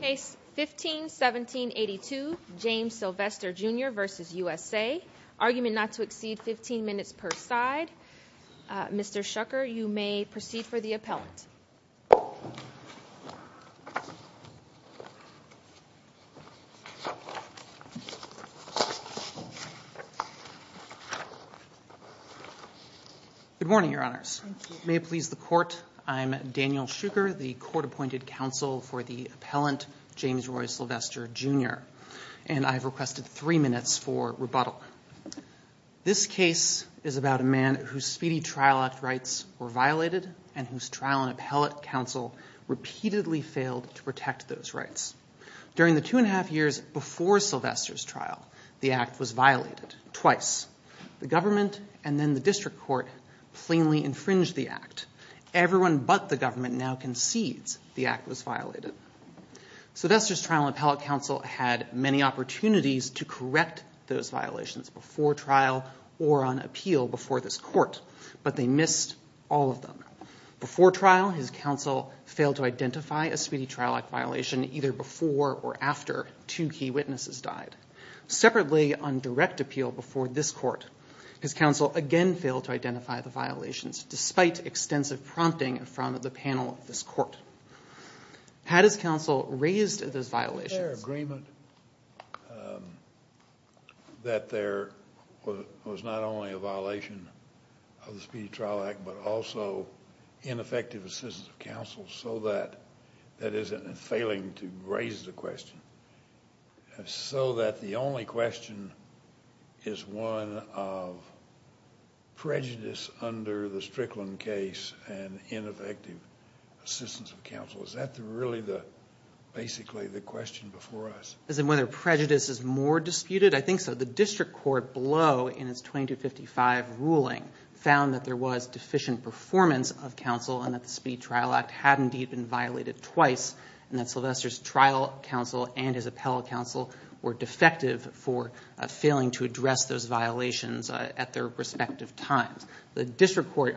Case 15-1782, James Sylvester Jr v. USA. Argument not to exceed 15 minutes per side. Mr. Shuker, you may proceed for the appellant. Good morning, Your Honors. May it please the Court, I am Daniel Shuker, the Court-Appointed Counsel for the appellant, James Roy Sylvester Jr. And I have requested three minutes for rebuttal. This case is about a man whose Speedy Trial Act rights were violated and whose trial and appellate counsel repeatedly failed to protect those rights. During the two and a half years before Sylvester's trial, the act was violated twice. Everyone but the government now concedes the act was violated. Sylvester's trial and appellate counsel had many opportunities to correct those violations before trial or on appeal before this Court, but they missed all of them. Before trial, his counsel failed to identify a Speedy Trial Act violation either before or after two key witnesses died. Separately, on direct appeal before this Court, his counsel again failed to identify the violations despite extensive prompting from the panel of this Court. Had his counsel raised those violations? Was there agreement that there was not only a violation of the Speedy Trial Act but also ineffective assistance of counsel so that, that is, in failing to raise the question, so that the only question is one of prejudice under the Strickland case and ineffective assistance of counsel? Is that really basically the question before us? As in whether prejudice is more disputed? I think so. The district court below in its 2255 ruling found that there was deficient performance of counsel and that the Speedy Trial Act had indeed been violated twice and that Sylvester's trial counsel and his appellate counsel were defective for failing to address those violations at their respective times. The district court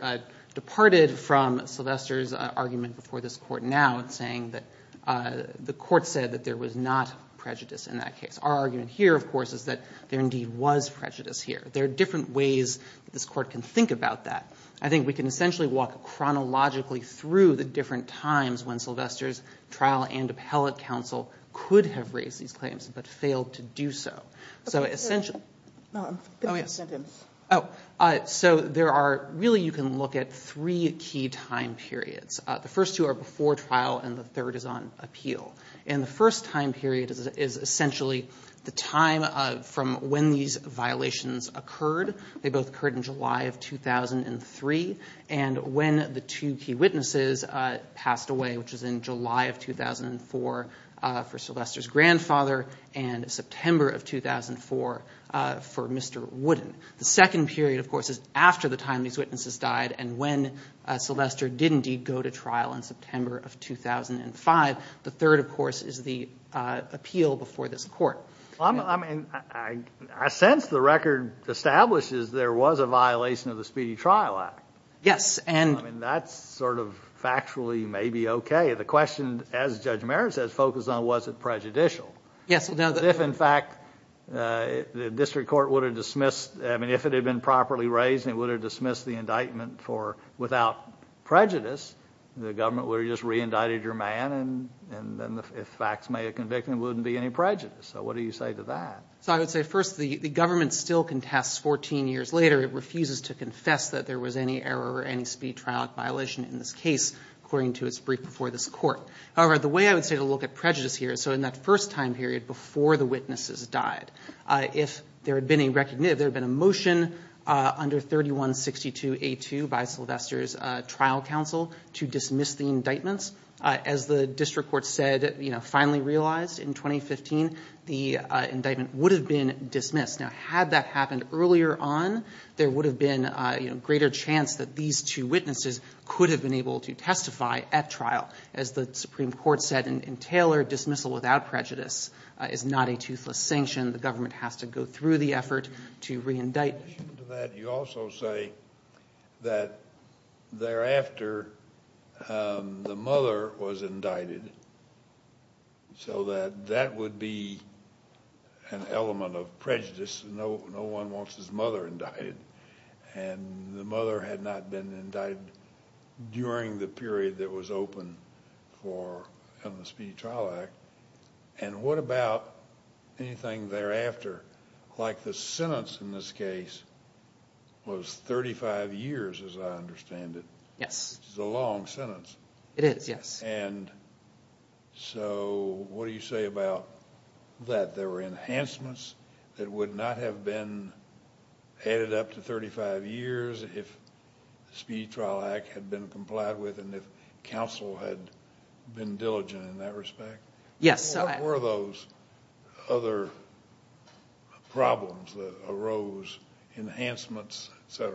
departed from Sylvester's argument before this Court now in saying that the Court said that there was not prejudice in that case. Our argument here, of course, is that there indeed was prejudice here. There are different ways that this Court can think about that. I think we can essentially walk chronologically through the different times when Sylvester's trial and appellate counsel could have raised these claims but failed to do so. So essentially— Oh, yes. So there are—really you can look at three key time periods. The first two are before trial and the third is on appeal. And the first time period is essentially the time from when these violations occurred. They both occurred in July of 2003. And when the two key witnesses passed away, which was in July of 2004 for Sylvester's grandfather and September of 2004 for Mr. Wooden. The second period, of course, is after the time these witnesses died and when Sylvester did indeed go to trial in September of 2005. The third, of course, is the appeal before this Court. I sense the record establishes there was a violation of the Speedy Trial Act. Yes, and— I mean, that's sort of factually maybe okay. The question, as Judge Merritt says, focuses on was it prejudicial. Yes. If, in fact, the district court would have dismissed— I mean, if it had been properly raised and it would have dismissed the indictment for without prejudice, the government would have just re-indicted your man and then the facts may have convicted him. It wouldn't be any prejudice. So what do you say to that? So I would say, first, the government still contests 14 years later. It refuses to confess that there was any error or any Speedy Trial Act violation in this case, according to its brief before this Court. However, the way I would say to look at prejudice here, so in that first time period before the witnesses died, if there had been a motion under 3162A2 by Sylvester's trial counsel to dismiss the indictments, as the district court said, finally realized in 2015, the indictment would have been dismissed. Now, had that happened earlier on, there would have been a greater chance that these two witnesses could have been able to testify at trial. As the Supreme Court said in Taylor, dismissal without prejudice is not a toothless sanction. The government has to go through the effort to re-indict. In addition to that, you also say that thereafter the mother was indicted, so that that would be an element of prejudice. No one wants his mother indicted. The mother had not been indicted during the period that was open in the Speedy Trial Act. And what about anything thereafter? Like the sentence in this case was 35 years, as I understand it. Yes. It's a long sentence. It is, yes. And so what do you say about that? There were enhancements that would not have been added up to 35 years if the Speedy Trial Act had been complied with and if counsel had been diligent in that respect? Yes. What were those other problems that arose, enhancements, et cetera?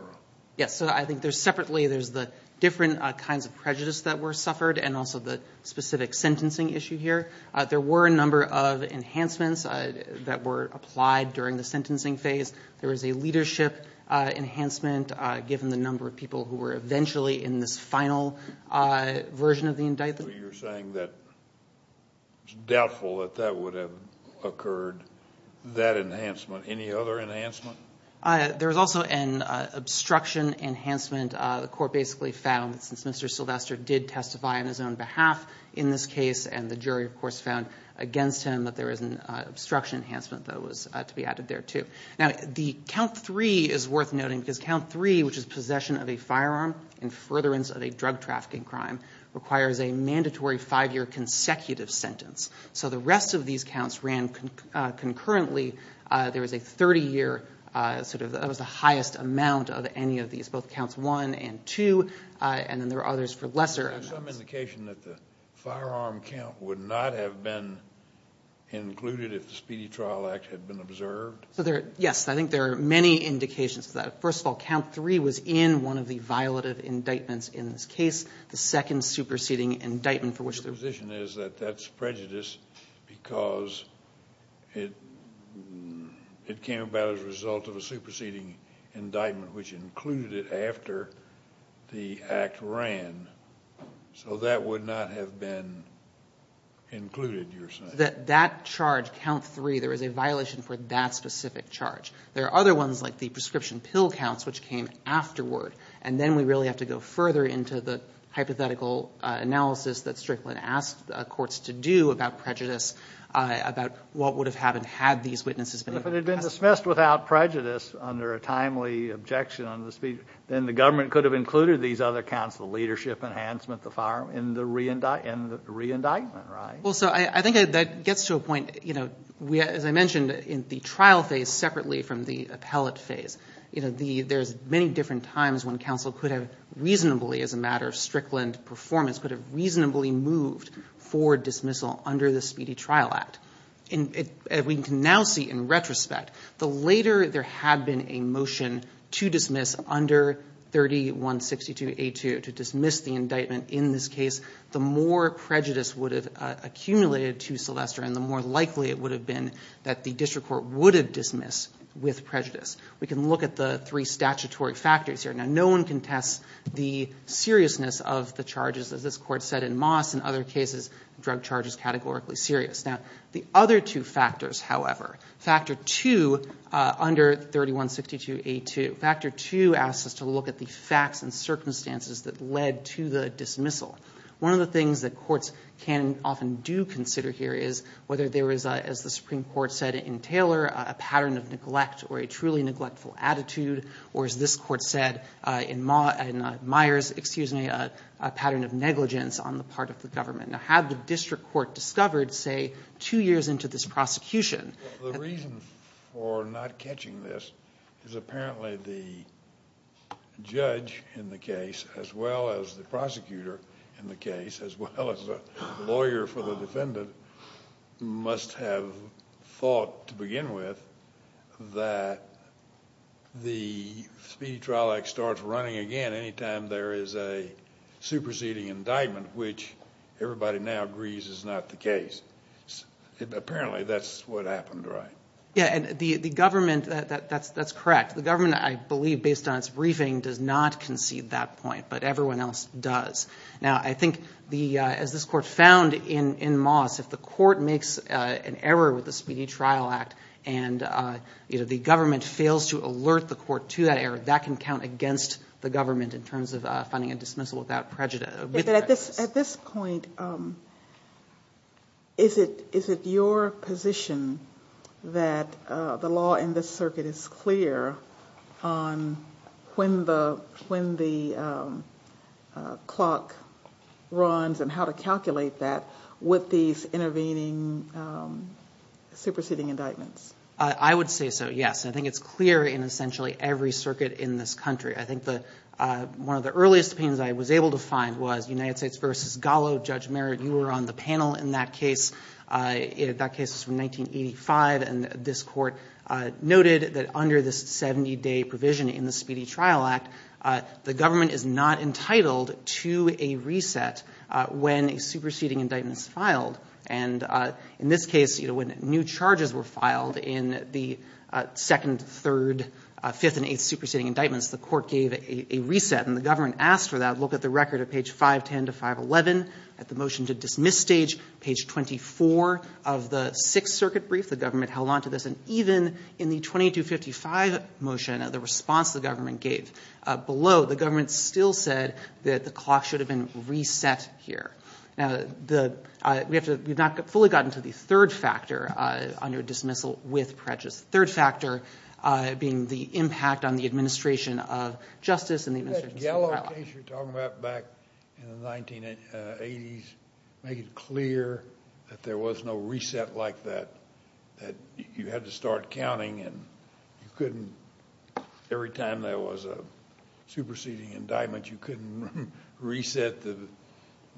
Yes, so I think there's separately, there's the different kinds of prejudice that were suffered and also the specific sentencing issue here. There were a number of enhancements that were applied during the sentencing phase. There was a leadership enhancement given the number of people who were eventually in this final version of the indictment. So you're saying that it's doubtful that that would have occurred, that enhancement. Any other enhancement? There was also an obstruction enhancement. The court basically found, since Mr. Sylvester did testify on his own behalf in this case and the jury, of course, found against him, that there was an obstruction enhancement that was to be added there too. Now, the count three is worth noting because count three, which is possession of a firearm in furtherance of a drug trafficking crime, requires a mandatory five-year consecutive sentence. So the rest of these counts ran concurrently. There was a 30-year sort of, that was the highest amount of any of these, both counts one and two, and then there were others for lesser amounts. Is there some indication that the firearm count would not have been included if the Speedy Trial Act had been observed? Yes. I think there are many indications of that. First of all, count three was in one of the violative indictments in this case, the second superseding indictment for which there was. Your position is that that's prejudice because it came about as a result of a superseding indictment which included it after the act ran, so that would not have been included, you're saying? That charge, count three, there was a violation for that specific charge. There are other ones like the prescription pill counts which came afterward, and then we really have to go further into the hypothetical analysis that Strickland asked courts to do about prejudice, about what would have happened had these witnesses been able to testify. But if it had been dismissed without prejudice under a timely objection under the Speedy, then the government could have included these other counts, the leadership enhancement, the firearm, in the re-indictment, right? Well, so I think that gets to a point, as I mentioned, in the trial phase separately from the appellate phase, there's many different times when counsel could have reasonably, as a matter of Strickland performance, could have reasonably moved for dismissal under the Speedy Trial Act. We can now see in retrospect, the later there had been a motion to dismiss under 3162A2 to dismiss the indictment in this case, the more prejudice would have accumulated to Sylvester and the more likely it would have been that the district court would have dismissed with prejudice. We can look at the three statutory factors here. Now, no one can test the seriousness of the charges, as this court said in Moss and other cases, drug charges categorically serious. Now, the other two factors, however, Factor 2 under 3162A2, Factor 2 asks us to look at the facts and circumstances that led to the dismissal. One of the things that courts can often do consider here is whether there is, as the Supreme Court said in Taylor, a pattern of neglect or a truly neglectful attitude, or as this court said in Myers, excuse me, a pattern of negligence on the part of the government. Now, had the district court discovered, say, two years into this prosecution The reason for not catching this is apparently the judge in the case, as well as the prosecutor in the case, as well as the lawyer for the defendant, must have thought to begin with that the speedy trial act starts running again any time there is a superseding indictment, which everybody now agrees is not the case. Apparently, that's what happened, right? Yeah, and the government, that's correct. The government, I believe, based on its briefing, does not concede that point, but everyone else does. Now, I think as this court found in Moss, if the court makes an error with the speedy trial act and the government fails to alert the court to that error, that can count against the government in terms of finding a dismissal without prejudice. At this point, is it your position that the law in this circuit is clear on when the clock runs and how to calculate that with these intervening superseding indictments? I would say so, yes. I think it's clear in essentially every circuit in this country. I think one of the earliest opinions I was able to find was United States v. Gallo. Judge Merritt, you were on the panel in that case. That case was from 1985, and this court noted that under this 70-day provision in the speedy trial act, the government is not entitled to a reset when a superseding indictment is filed. And in this case, when new charges were filed in the second, third, fifth, and eighth superseding indictments, the court gave a reset, and the government asked for that. Look at the record at page 510 to 511 at the motion to dismiss stage, page 24 of the Sixth Circuit brief. The government held on to this. And even in the 2255 motion, the response the government gave below, the government still said that the clock should have been reset here. Now, we have not fully gotten to the third factor under dismissal with prejudice, the third factor being the impact on the administration of justice and the administration of speedy trial act. That Gallo case you're talking about back in the 1980s, make it clear that there was no reset like that, that you had to start counting and you couldn't, every time there was a superseding indictment, you couldn't reset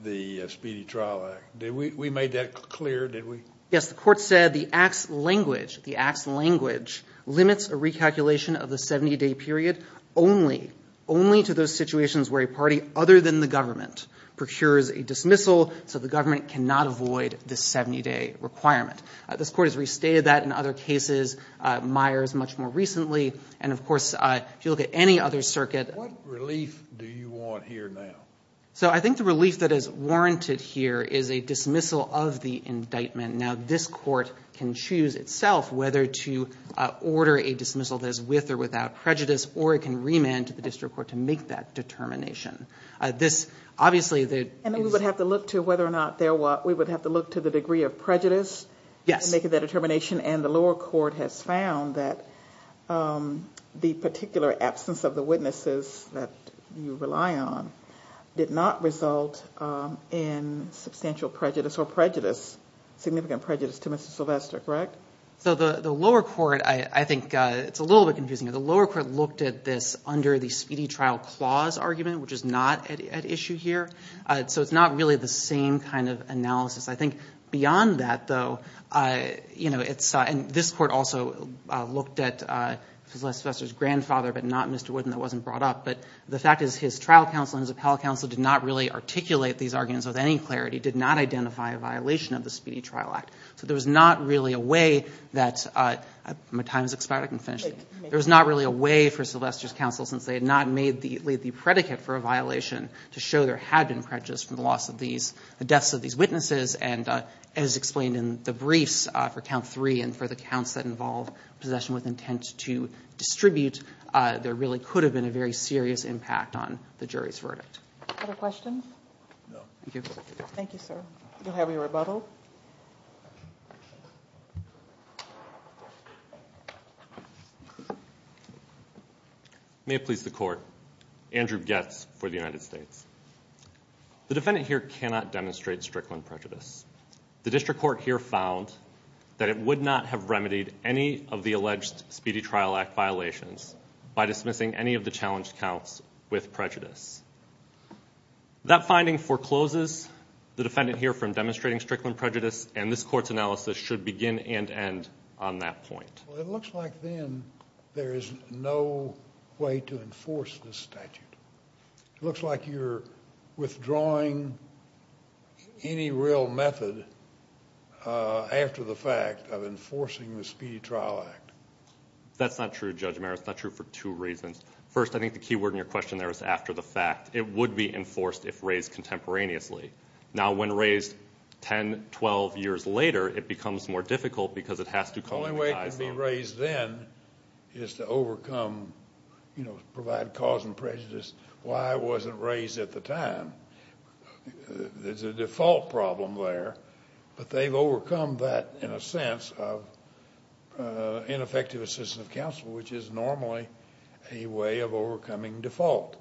the speedy trial act. We made that clear, did we? Yes, the court said the acts language, the acts language limits a recalculation of the 70-day period only, only to those situations where a party other than the government procures a dismissal, so the government cannot avoid the 70-day requirement. This court has restated that in other cases, Myers much more recently, and, of course, if you look at any other circuit. What relief do you want here now? So I think the relief that is warranted here is a dismissal of the indictment. Now, this court can choose itself whether to order a dismissal that is with or without prejudice, or it can remand to the district court to make that determination. This, obviously, the. And we would have to look to whether or not there was, we would have to look to the degree of prejudice. Yes. And the lower court has found that the particular absence of the witnesses that you rely on did not result in substantial prejudice, or prejudice, significant prejudice to Mr. Sylvester, correct? So the lower court, I think it's a little bit confusing. The lower court looked at this under the speedy trial clause argument, which is not at issue here. So it's not really the same kind of analysis. I think beyond that, though, you know, it's, and this court also looked at Sylvester's grandfather, but not Mr. Wooden. That wasn't brought up. But the fact is his trial counsel and his appellate counsel did not really articulate these arguments with any clarity, did not identify a violation of the speedy trial act. So there was not really a way that, my time is expiring. I can finish. There was not really a way for Sylvester's counsel, since they had not made the predicate for a violation, to show there had been prejudice from the loss of these, the deaths of these witnesses. And as explained in the briefs for count three and for the counts that involve possession with intent to distribute, there really could have been a very serious impact on the jury's verdict. Other questions? No. Thank you. Thank you, sir. You'll have your rebuttal. May it please the court. Andrew Goetz for the United States. The defendant here cannot demonstrate Strickland prejudice. The district court here found that it would not have remedied any of the alleged speedy trial act violations by dismissing any of the challenged counts with prejudice. That finding forecloses the defendant here from demonstrating Strickland prejudice, and this court's analysis should begin and end on that point. Well, it looks like then there is no way to enforce this statute. It looks like you're withdrawing any real method after the fact of enforcing the speedy trial act. That's not true, Judge Mayer. It's not true for two reasons. First, I think the key word in your question there is after the fact. It would be enforced if raised contemporaneously. Now, when raised 10, 12 years later, it becomes more difficult because it has to coincide. The only way it could be raised then is to overcome, you know, provide cause and prejudice, why it wasn't raised at the time. There's a default problem there, but they've overcome that in a sense of ineffective assistance of counsel, which is normally a way of overcoming default.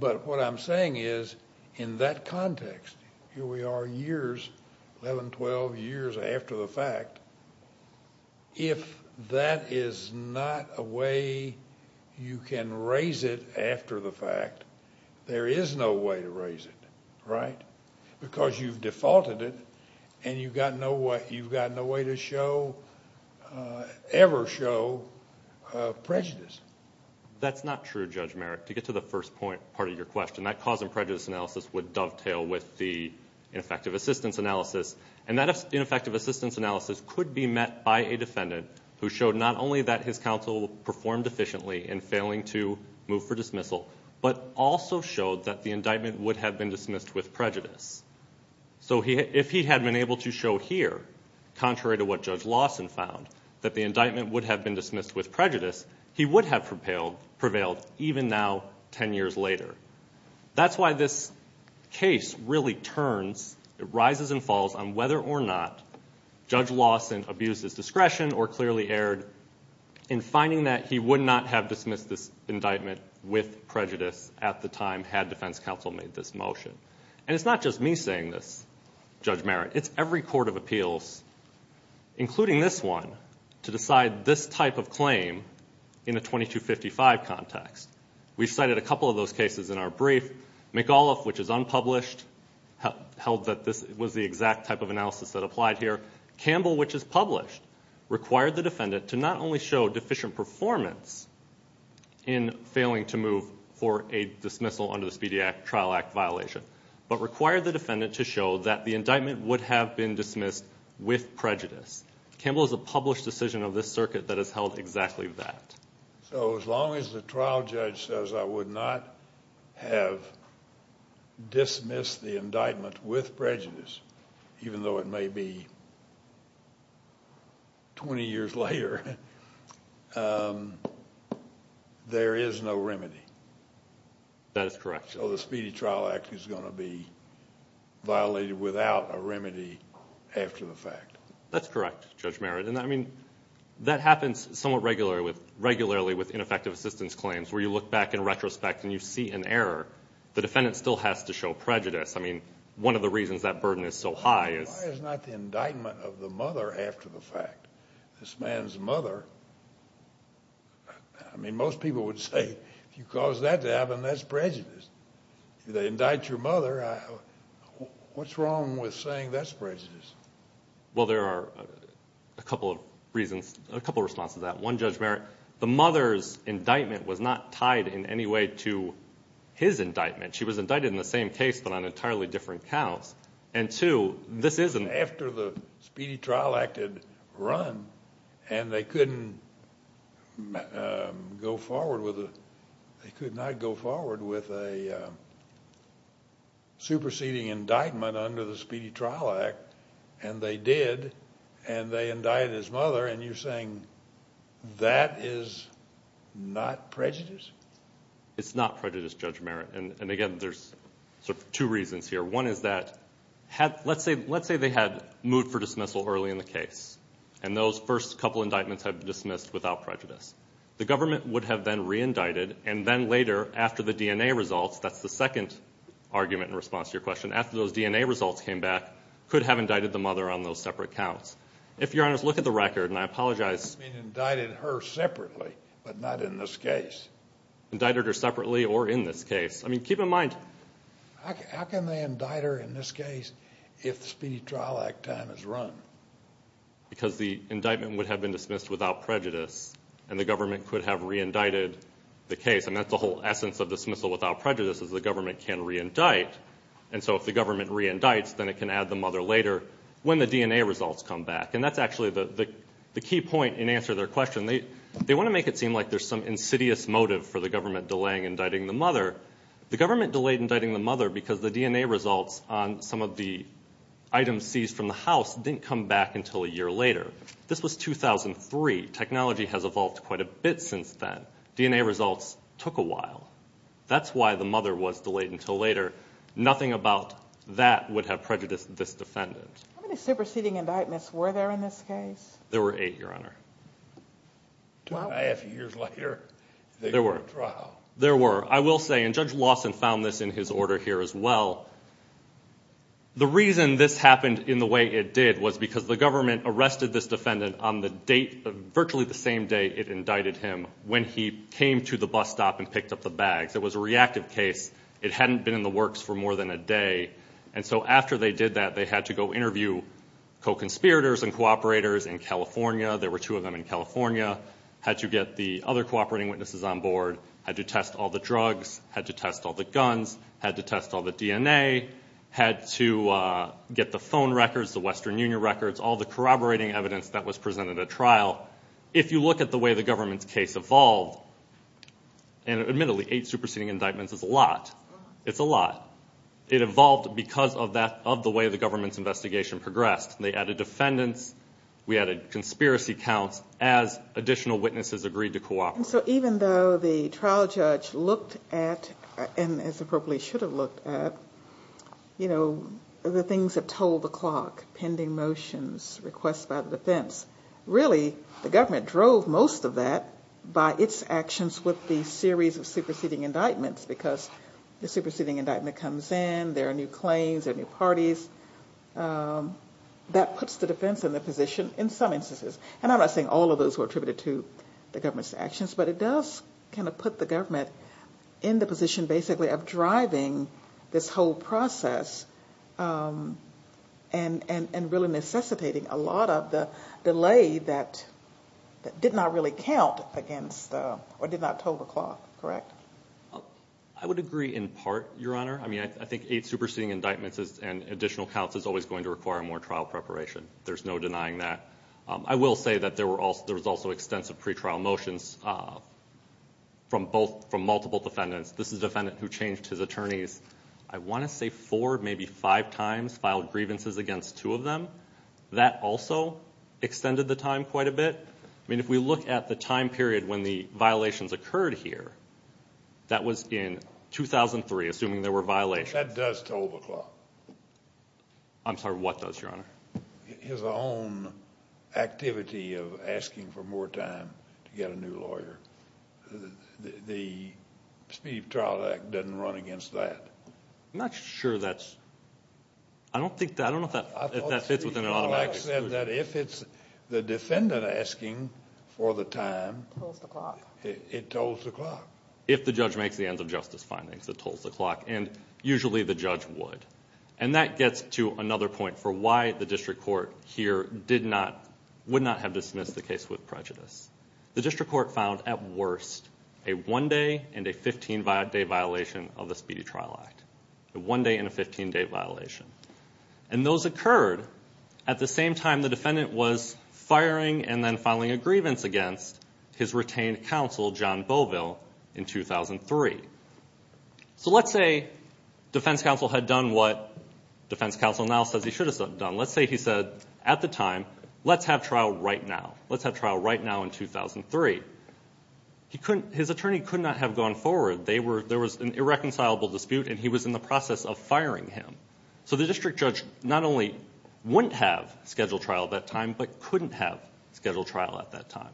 But what I'm saying is in that context, here we are years, 11, 12 years after the fact, if that is not a way you can raise it after the fact, there is no way to raise it, right? Because you've defaulted it, and you've got no way to show, ever show, prejudice. That's not true, Judge Mayer. To get to the first part of your question, that cause and prejudice analysis would dovetail with the ineffective assistance analysis, and that ineffective assistance analysis could be met by a defendant who showed not only that his counsel performed efficiently in failing to move for dismissal, but also showed that the indictment would have been dismissed with prejudice. So if he had been able to show here, contrary to what Judge Lawson found, that the indictment would have been dismissed with prejudice, he would have prevailed, even now, 10 years later. That's why this case really turns, rises and falls on whether or not Judge Lawson abused his discretion or clearly erred in finding that he would not have dismissed this indictment with prejudice at the time had defense counsel made this motion. And it's not just me saying this, Judge Mayer. It's every court of appeals, including this one, to decide this type of claim in a 2255 context. We've cited a couple of those cases in our brief. McAuliffe, which is unpublished, held that this was the exact type of analysis that applied here. Campbell, which is published, required the defendant to not only show deficient performance in failing to move for a dismissal under the Speedy Act Trial Act violation, but required the defendant to show that the indictment would have been dismissed with prejudice. Campbell is a published decision of this circuit that has held exactly that. So as long as the trial judge says I would not have dismissed the indictment with prejudice, even though it may be 20 years later, there is no remedy. That is correct. So the Speedy Trial Act is going to be violated without a remedy after the fact. That's correct, Judge Mayer. And, I mean, that happens somewhat regularly with ineffective assistance claims where you look back in retrospect and you see an error. The defendant still has to show prejudice. I mean, one of the reasons that burden is so high is... It's not the indictment of the mother after the fact. This man's mother... I mean, most people would say if you cause that to happen, that's prejudice. They indict your mother. What's wrong with saying that's prejudice? Well, there are a couple of reasons, a couple of responses to that. One, Judge Mayer, the mother's indictment was not tied in any way to his indictment. She was indicted in the same case but on entirely different counts. And, two, this isn't... After the Speedy Trial Act had run and they couldn't go forward with a... they could not go forward with a superseding indictment under the Speedy Trial Act, and they did, and they indicted his mother, and you're saying that is not prejudice? It's not prejudice, Judge Mayer. And, again, there's two reasons here. One is that let's say they had moved for dismissal early in the case, and those first couple indictments had been dismissed without prejudice. The government would have then re-indicted, and then later, after the DNA results, that's the second argument in response to your question, after those DNA results came back, could have indicted the mother on those separate counts. If, Your Honors, look at the record, and I apologize... You mean indicted her separately but not in this case? Indicted her separately or in this case. I mean, keep in mind... How can they indict her in this case if the Speedy Trial Act time is run? Because the indictment would have been dismissed without prejudice, and the government could have re-indicted the case, and that's the whole essence of dismissal without prejudice is the government can re-indict, and so if the government re-indicts, then it can add the mother later when the DNA results come back, and that's actually the key point in answer to their question. They want to make it seem like there's some insidious motive for the government delaying indicting the mother. The government delayed indicting the mother because the DNA results on some of the items seized from the house didn't come back until a year later. This was 2003. Technology has evolved quite a bit since then. DNA results took a while. That's why the mother was delayed until later. Nothing about that would have prejudiced this defendant. How many superseding indictments were there in this case? There were eight, Your Honor. Two and a half years later, they were in trial. There were. I will say, and Judge Lawson found this in his order here as well, the reason this happened in the way it did was because the government arrested this defendant on the date, virtually the same day it indicted him, when he came to the bus stop and picked up the bags. It was a reactive case. It hadn't been in the works for more than a day, and so after they did that, they had to go interview co-conspirators and cooperators in California. There were two of them in California. Had to get the other cooperating witnesses on board. Had to test all the drugs. Had to test all the guns. Had to test all the DNA. Had to get the phone records, the Western Union records, all the corroborating evidence that was presented at trial. If you look at the way the government's case evolved, and admittedly, eight superseding indictments is a lot. It's a lot. It evolved because of the way the government's investigation progressed. They added defendants. We added conspiracy counts as additional witnesses agreed to cooperate. So even though the trial judge looked at, and as appropriately should have looked at, you know, the things that told the clock, pending motions, requests by the defense, really the government drove most of that by its actions with the series of superseding indictments because the superseding indictment comes in. There are new claims. There are new parties. That puts the defense in the position in some instances. And I'm not saying all of those were attributed to the government's actions, but it does kind of put the government in the position, basically, of driving this whole process and really necessitating a lot of the delay that did not really count against or did not tell the clock. Correct? I would agree in part, Your Honor. I mean, I think eight superseding indictments and additional counts is always going to require more trial preparation. There's no denying that. I will say that there was also extensive pretrial motions from multiple defendants. This is a defendant who changed his attorneys, I want to say, four, maybe five times, filed grievances against two of them. That also extended the time quite a bit. I mean, if we look at the time period when the violations occurred here, that was in 2003, assuming there were violations. That does toll the clock. I'm sorry, what does, Your Honor? His own activity of asking for more time to get a new lawyer. The Speedy Trial Act doesn't run against that. I'm not sure that's – I don't think – I don't know if that fits within an automatic exclusion. The defendant asking for the time, it tolls the clock. If the judge makes the ends of justice findings, it tolls the clock. And usually the judge would. And that gets to another point for why the district court here did not – would not have dismissed the case with prejudice. The district court found, at worst, a one-day and a 15-day violation of the Speedy Trial Act. A one-day and a 15-day violation. And those occurred at the same time the defendant was firing and then filing a grievance against his retained counsel, John Beauville, in 2003. So let's say defense counsel had done what defense counsel now says he should have done. Let's say he said at the time, let's have trial right now. Let's have trial right now in 2003. His attorney could not have gone forward. They were – there was an irreconcilable dispute, and he was in the process of firing him. So the district judge not only wouldn't have scheduled trial at that time, but couldn't have scheduled trial at that time.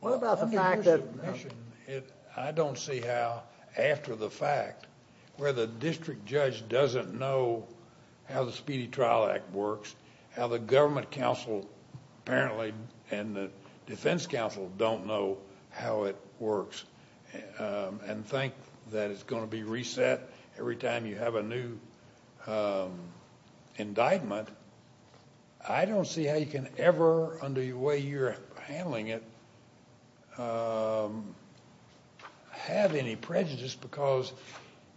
What about the fact that – I don't see how, after the fact, where the district judge doesn't know how the Speedy Trial Act works, how the government counsel apparently and the defense counsel don't know how it works, and think that it's going to be reset every time you have a new indictment. I don't see how you can ever, under the way you're handling it, have any prejudice because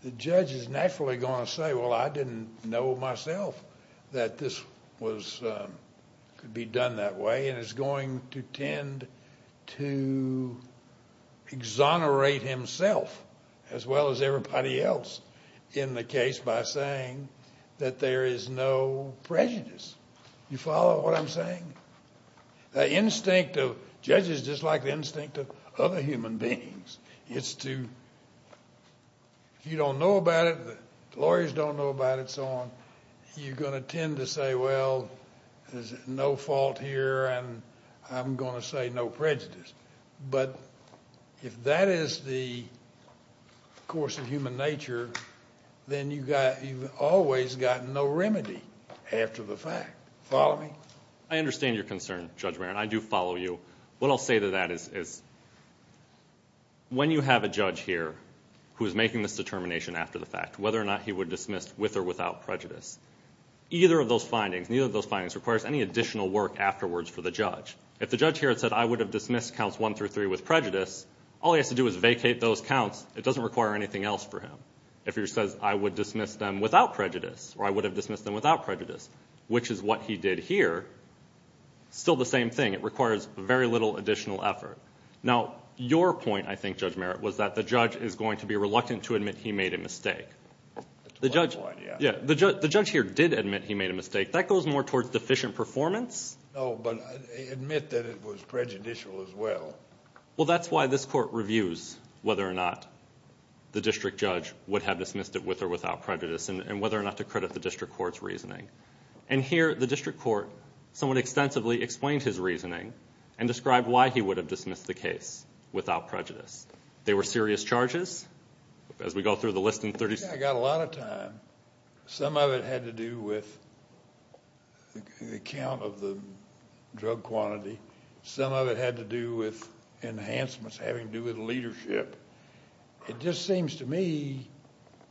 the judge is naturally going to say, well, I didn't know myself that this was – could be done that way, and is going to tend to exonerate himself as well as everybody else in the case by saying that there is no prejudice. You follow what I'm saying? The instinct of judges is just like the instinct of other human beings. It's to – if you don't know about it, the lawyers don't know about it, and so on, you're going to tend to say, well, there's no fault here, and I'm going to say no prejudice. But if that is the course of human nature, then you've always got no remedy after the fact. Follow me? I understand your concern, Judge Maron. I do follow you. What I'll say to that is when you have a judge here who is making this determination after the fact, whether or not he would dismiss with or without prejudice, either of those findings, neither of those findings requires any additional work afterwards for the judge. If the judge here had said, I would have dismissed counts one through three with prejudice, all he has to do is vacate those counts. It doesn't require anything else for him. If he says, I would dismiss them without prejudice, or I would have dismissed them without prejudice, which is what he did here, still the same thing. It requires very little additional effort. Now, your point, I think, Judge Merritt, was that the judge is going to be reluctant to admit he made a mistake. The judge here did admit he made a mistake. That goes more towards deficient performance. No, but admit that it was prejudicial as well. Well, that's why this Court reviews whether or not the district judge would have dismissed it with or without prejudice, and whether or not to credit the district court's reasoning. And here, the district court somewhat extensively explained his reasoning and described why he would have dismissed the case without prejudice. There were serious charges, as we go through the list in 30 seconds. I got a lot of time. Some of it had to do with the count of the drug quantity. Some of it had to do with enhancements, having to do with leadership. It just seems to me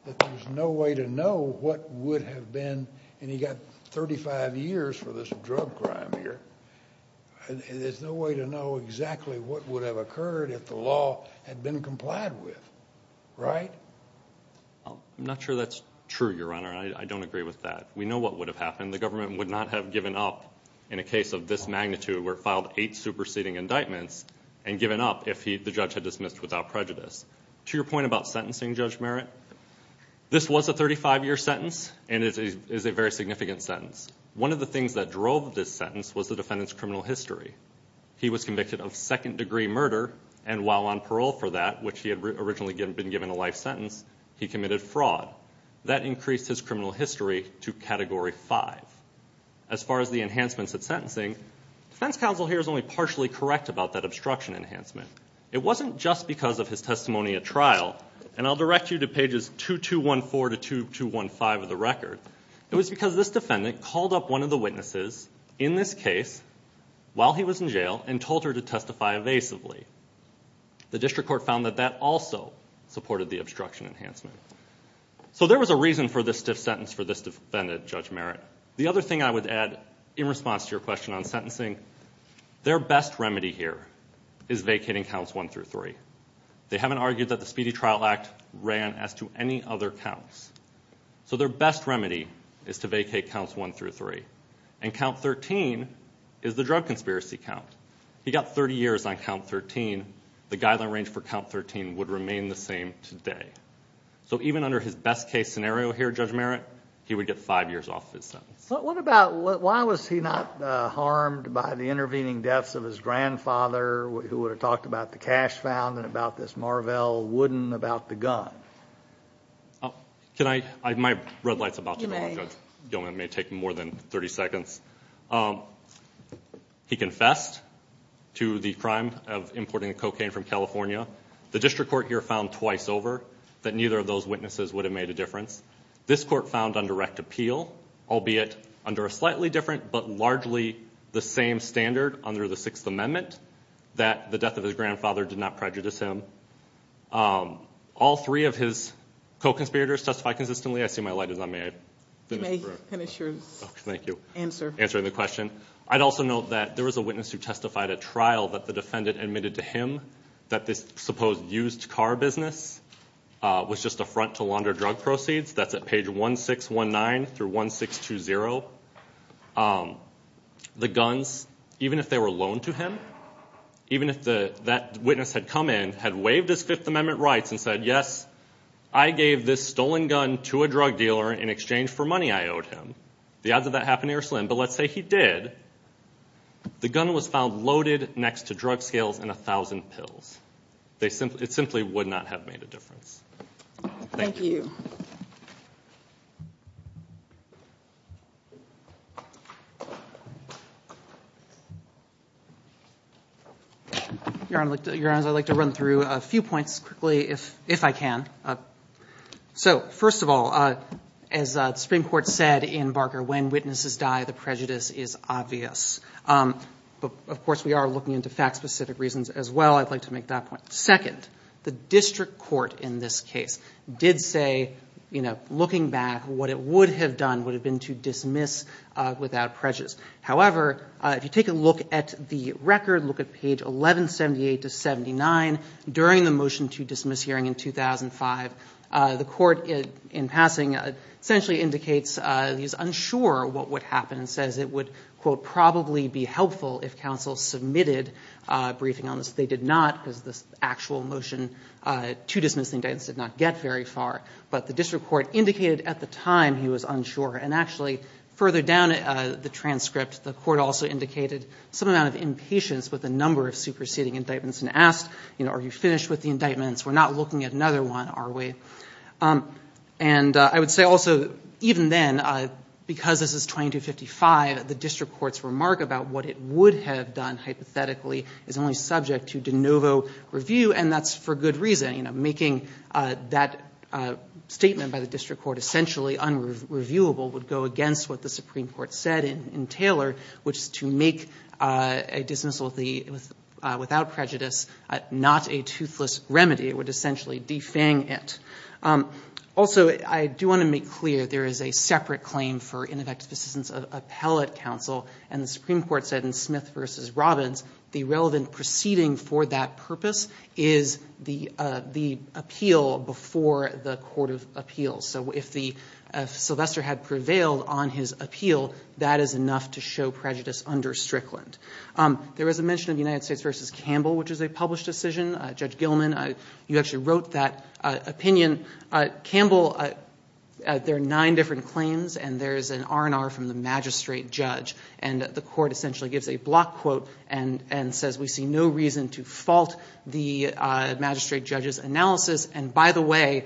that there's no way to know what would have been, and you've got 35 years for this drug crime here, there's no way to know exactly what would have occurred if the law had been complied with. Right? I'm not sure that's true, Your Honor, and I don't agree with that. We know what would have happened. The government would not have given up in a case of this magnitude, where it filed eight superseding indictments and given up if the judge had dismissed without prejudice. To your point about sentencing Judge Merritt, this was a 35-year sentence, and it is a very significant sentence. One of the things that drove this sentence was the defendant's criminal history. He was convicted of second-degree murder, and while on parole for that, which he had originally been given a life sentence, he committed fraud. That increased his criminal history to Category 5. As far as the enhancements at sentencing, defense counsel here is only partially correct about that obstruction enhancement. It wasn't just because of his testimony at trial, and I'll direct you to pages 2214 to 2215 of the record. It was because this defendant called up one of the witnesses in this case while he was in jail and told her to testify evasively. The district court found that that also supported the obstruction enhancement. So there was a reason for this stiff sentence for this defendant, Judge Merritt. The other thing I would add in response to your question on sentencing, their best remedy here is vacating Counts 1 through 3. They haven't argued that the Speedy Trial Act ran as to any other counts. So their best remedy is to vacate Counts 1 through 3. And Count 13 is the drug conspiracy count. He got 30 years on Count 13. The guideline range for Count 13 would remain the same today. So even under his best case scenario here, Judge Merritt, he would get five years off his sentence. But what about why was he not harmed by the intervening deaths of his grandfather who would have talked about the cash found and about this Marvell wooden about the gun? Can I? My red light's about to go off, Judge Gilman. It may take more than 30 seconds. He confessed to the crime of importing cocaine from California. The district court here found twice over that neither of those witnesses would have made a difference. This court found on direct appeal, albeit under a slightly different but largely the same standard under the Sixth Amendment, that the death of his grandfather did not prejudice him. All three of his co-conspirators testified consistently. I see my light is on. May I finish? You may finish your answer. Answering the question. I'd also note that there was a witness who testified at trial that the defendant admitted to him that this supposed used car business was just a front to launder drug proceeds. That's at page 1619 through 1620. The guns, even if they were loaned to him, even if that witness had come in, had waived his Fifth Amendment rights and said, yes, I gave this stolen gun to a drug dealer in exchange for money I owed him. The odds of that happening are slim, but let's say he did. The gun was found loaded next to drug scales and a thousand pills. It simply would not have made a difference. Thank you. Your Honor, I'd like to run through a few points quickly, if I can. So, first of all, as the Supreme Court said in Barker, when witnesses die, the prejudice is obvious. Of course, we are looking into fact-specific reasons as well. I'd like to make that point. Second, the district court in this case did say, looking back, what it would have done would have been to dismiss without prejudice. However, if you take a look at the record, look at page 1178 to 79, during the motion to dismiss hearing in 2005, the court, in passing, essentially indicates he's unsure what would happen and says it would, quote, probably be helpful if counsel submitted a briefing on this. They did not, because this actual motion to dismiss the indictments did not get very far. But the district court indicated at the time he was unsure. And actually, further down the transcript, the court also indicated some amount of impatience with a number of superseding indictments and asked, are you finished with the indictments? We're not looking at another one, are we? And I would say also, even then, because this is 2255, the district court's remark about what it would have done hypothetically is only subject to de novo review, and that's for good reason. Making that statement by the district court essentially unreviewable would go against what the Supreme Court said in Taylor, which is to make a dismissal without prejudice not a toothless remedy. It would essentially defang it. Also, I do want to make clear there is a separate claim for ineffective assistance of appellate counsel, and the Supreme Court said in Smith v. Robbins the relevant proceeding for that purpose is the appeal before the court of appeals. So if Sylvester had prevailed on his appeal, that is enough to show prejudice under Strickland. There was a mention of the United States v. Campbell, which is a published decision. Judge Gilman, you actually wrote that opinion. Campbell, there are nine different claims, and there is an R&R from the magistrate judge, and the court essentially gives a block quote and says we see no reason to fault the magistrate judge's analysis, and by the way,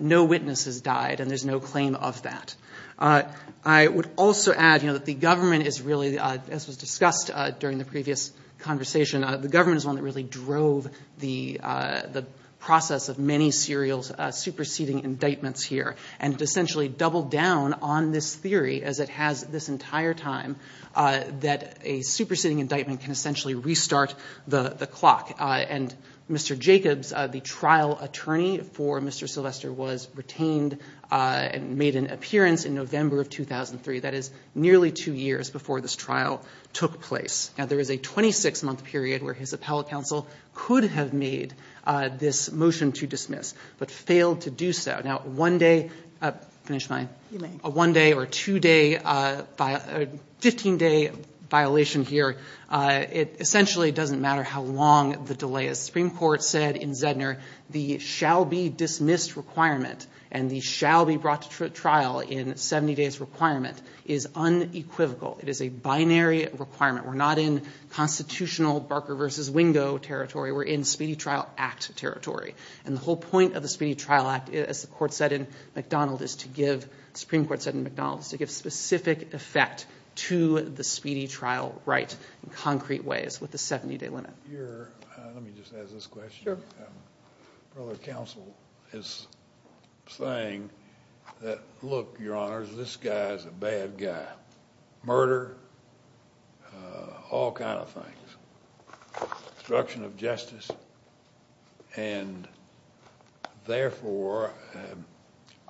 no witnesses died, and there's no claim of that. I would also add that the government is really, as was discussed during the previous conversation, the government is the one that really drove the process of many serial superseding indictments here, and it essentially doubled down on this theory as it has this entire time that a superseding indictment can essentially restart the clock, and Mr. Jacobs, the trial attorney for Mr. Sylvester, was retained and made an appearance in November of 2003. That is nearly two years before this trial took place. Now, there is a 26-month period where his appellate counsel could have made this motion to dismiss but failed to do so. Now, one day or two-day, 15-day violation here, it essentially doesn't matter how long the delay is. The Supreme Court said in Zedner, the shall-be-dismissed requirement and the shall-be-brought-to-trial-in-70-days requirement is unequivocal. It is a binary requirement. We're not in constitutional Barker v. Wingo territory. We're in Speedy Trial Act territory, and the whole point of the Speedy Trial Act, as the Supreme Court said in McDonald, is to give specific effect to the Speedy Trial right in concrete ways with the 70-day limit. Let me just ask this question. Sure. Brother Counsel is saying that, look, Your Honors, this guy is a bad guy. Murder, all kind of things, destruction of justice, and therefore,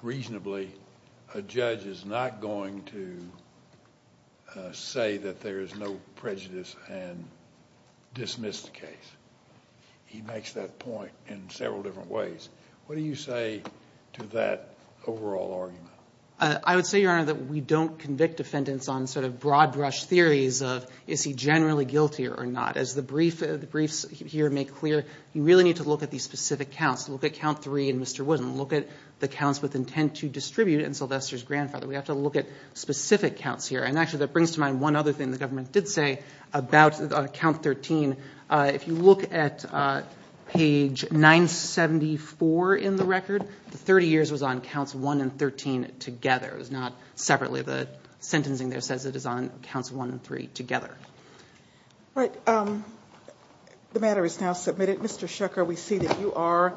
reasonably, a judge is not going to say that there is no prejudice and dismiss the case. He makes that point in several different ways. What do you say to that overall argument? I would say, Your Honor, that we don't convict defendants on sort of broad-brush theories of is he generally guilty or not. As the briefs here make clear, you really need to look at these specific counts. Look at count three in Mr. Wooden. Look at the counts with intent to distribute in Sylvester's grandfather. We have to look at specific counts here. And actually, that brings to mind one other thing the government did say about count 13. If you look at page 974 in the record, the 30 years was on counts one and 13 together. It was not separately. The sentencing there says it is on counts one and three together. All right. The matter is now submitted. Mr. Shucker, we see that you are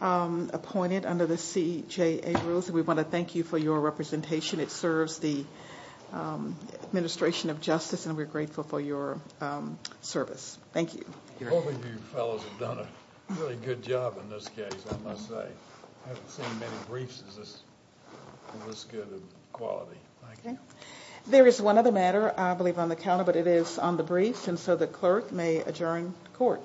appointed under the CJA rules, and we want to thank you for your representation. It serves the administration of justice, and we're grateful for your service. Thank you. All of you fellows have done a really good job in this case, I must say. I haven't seen many briefs as good of quality. Thank you. There is one other matter, I believe, on the calendar, but it is on the briefs, and so the clerk may adjourn court.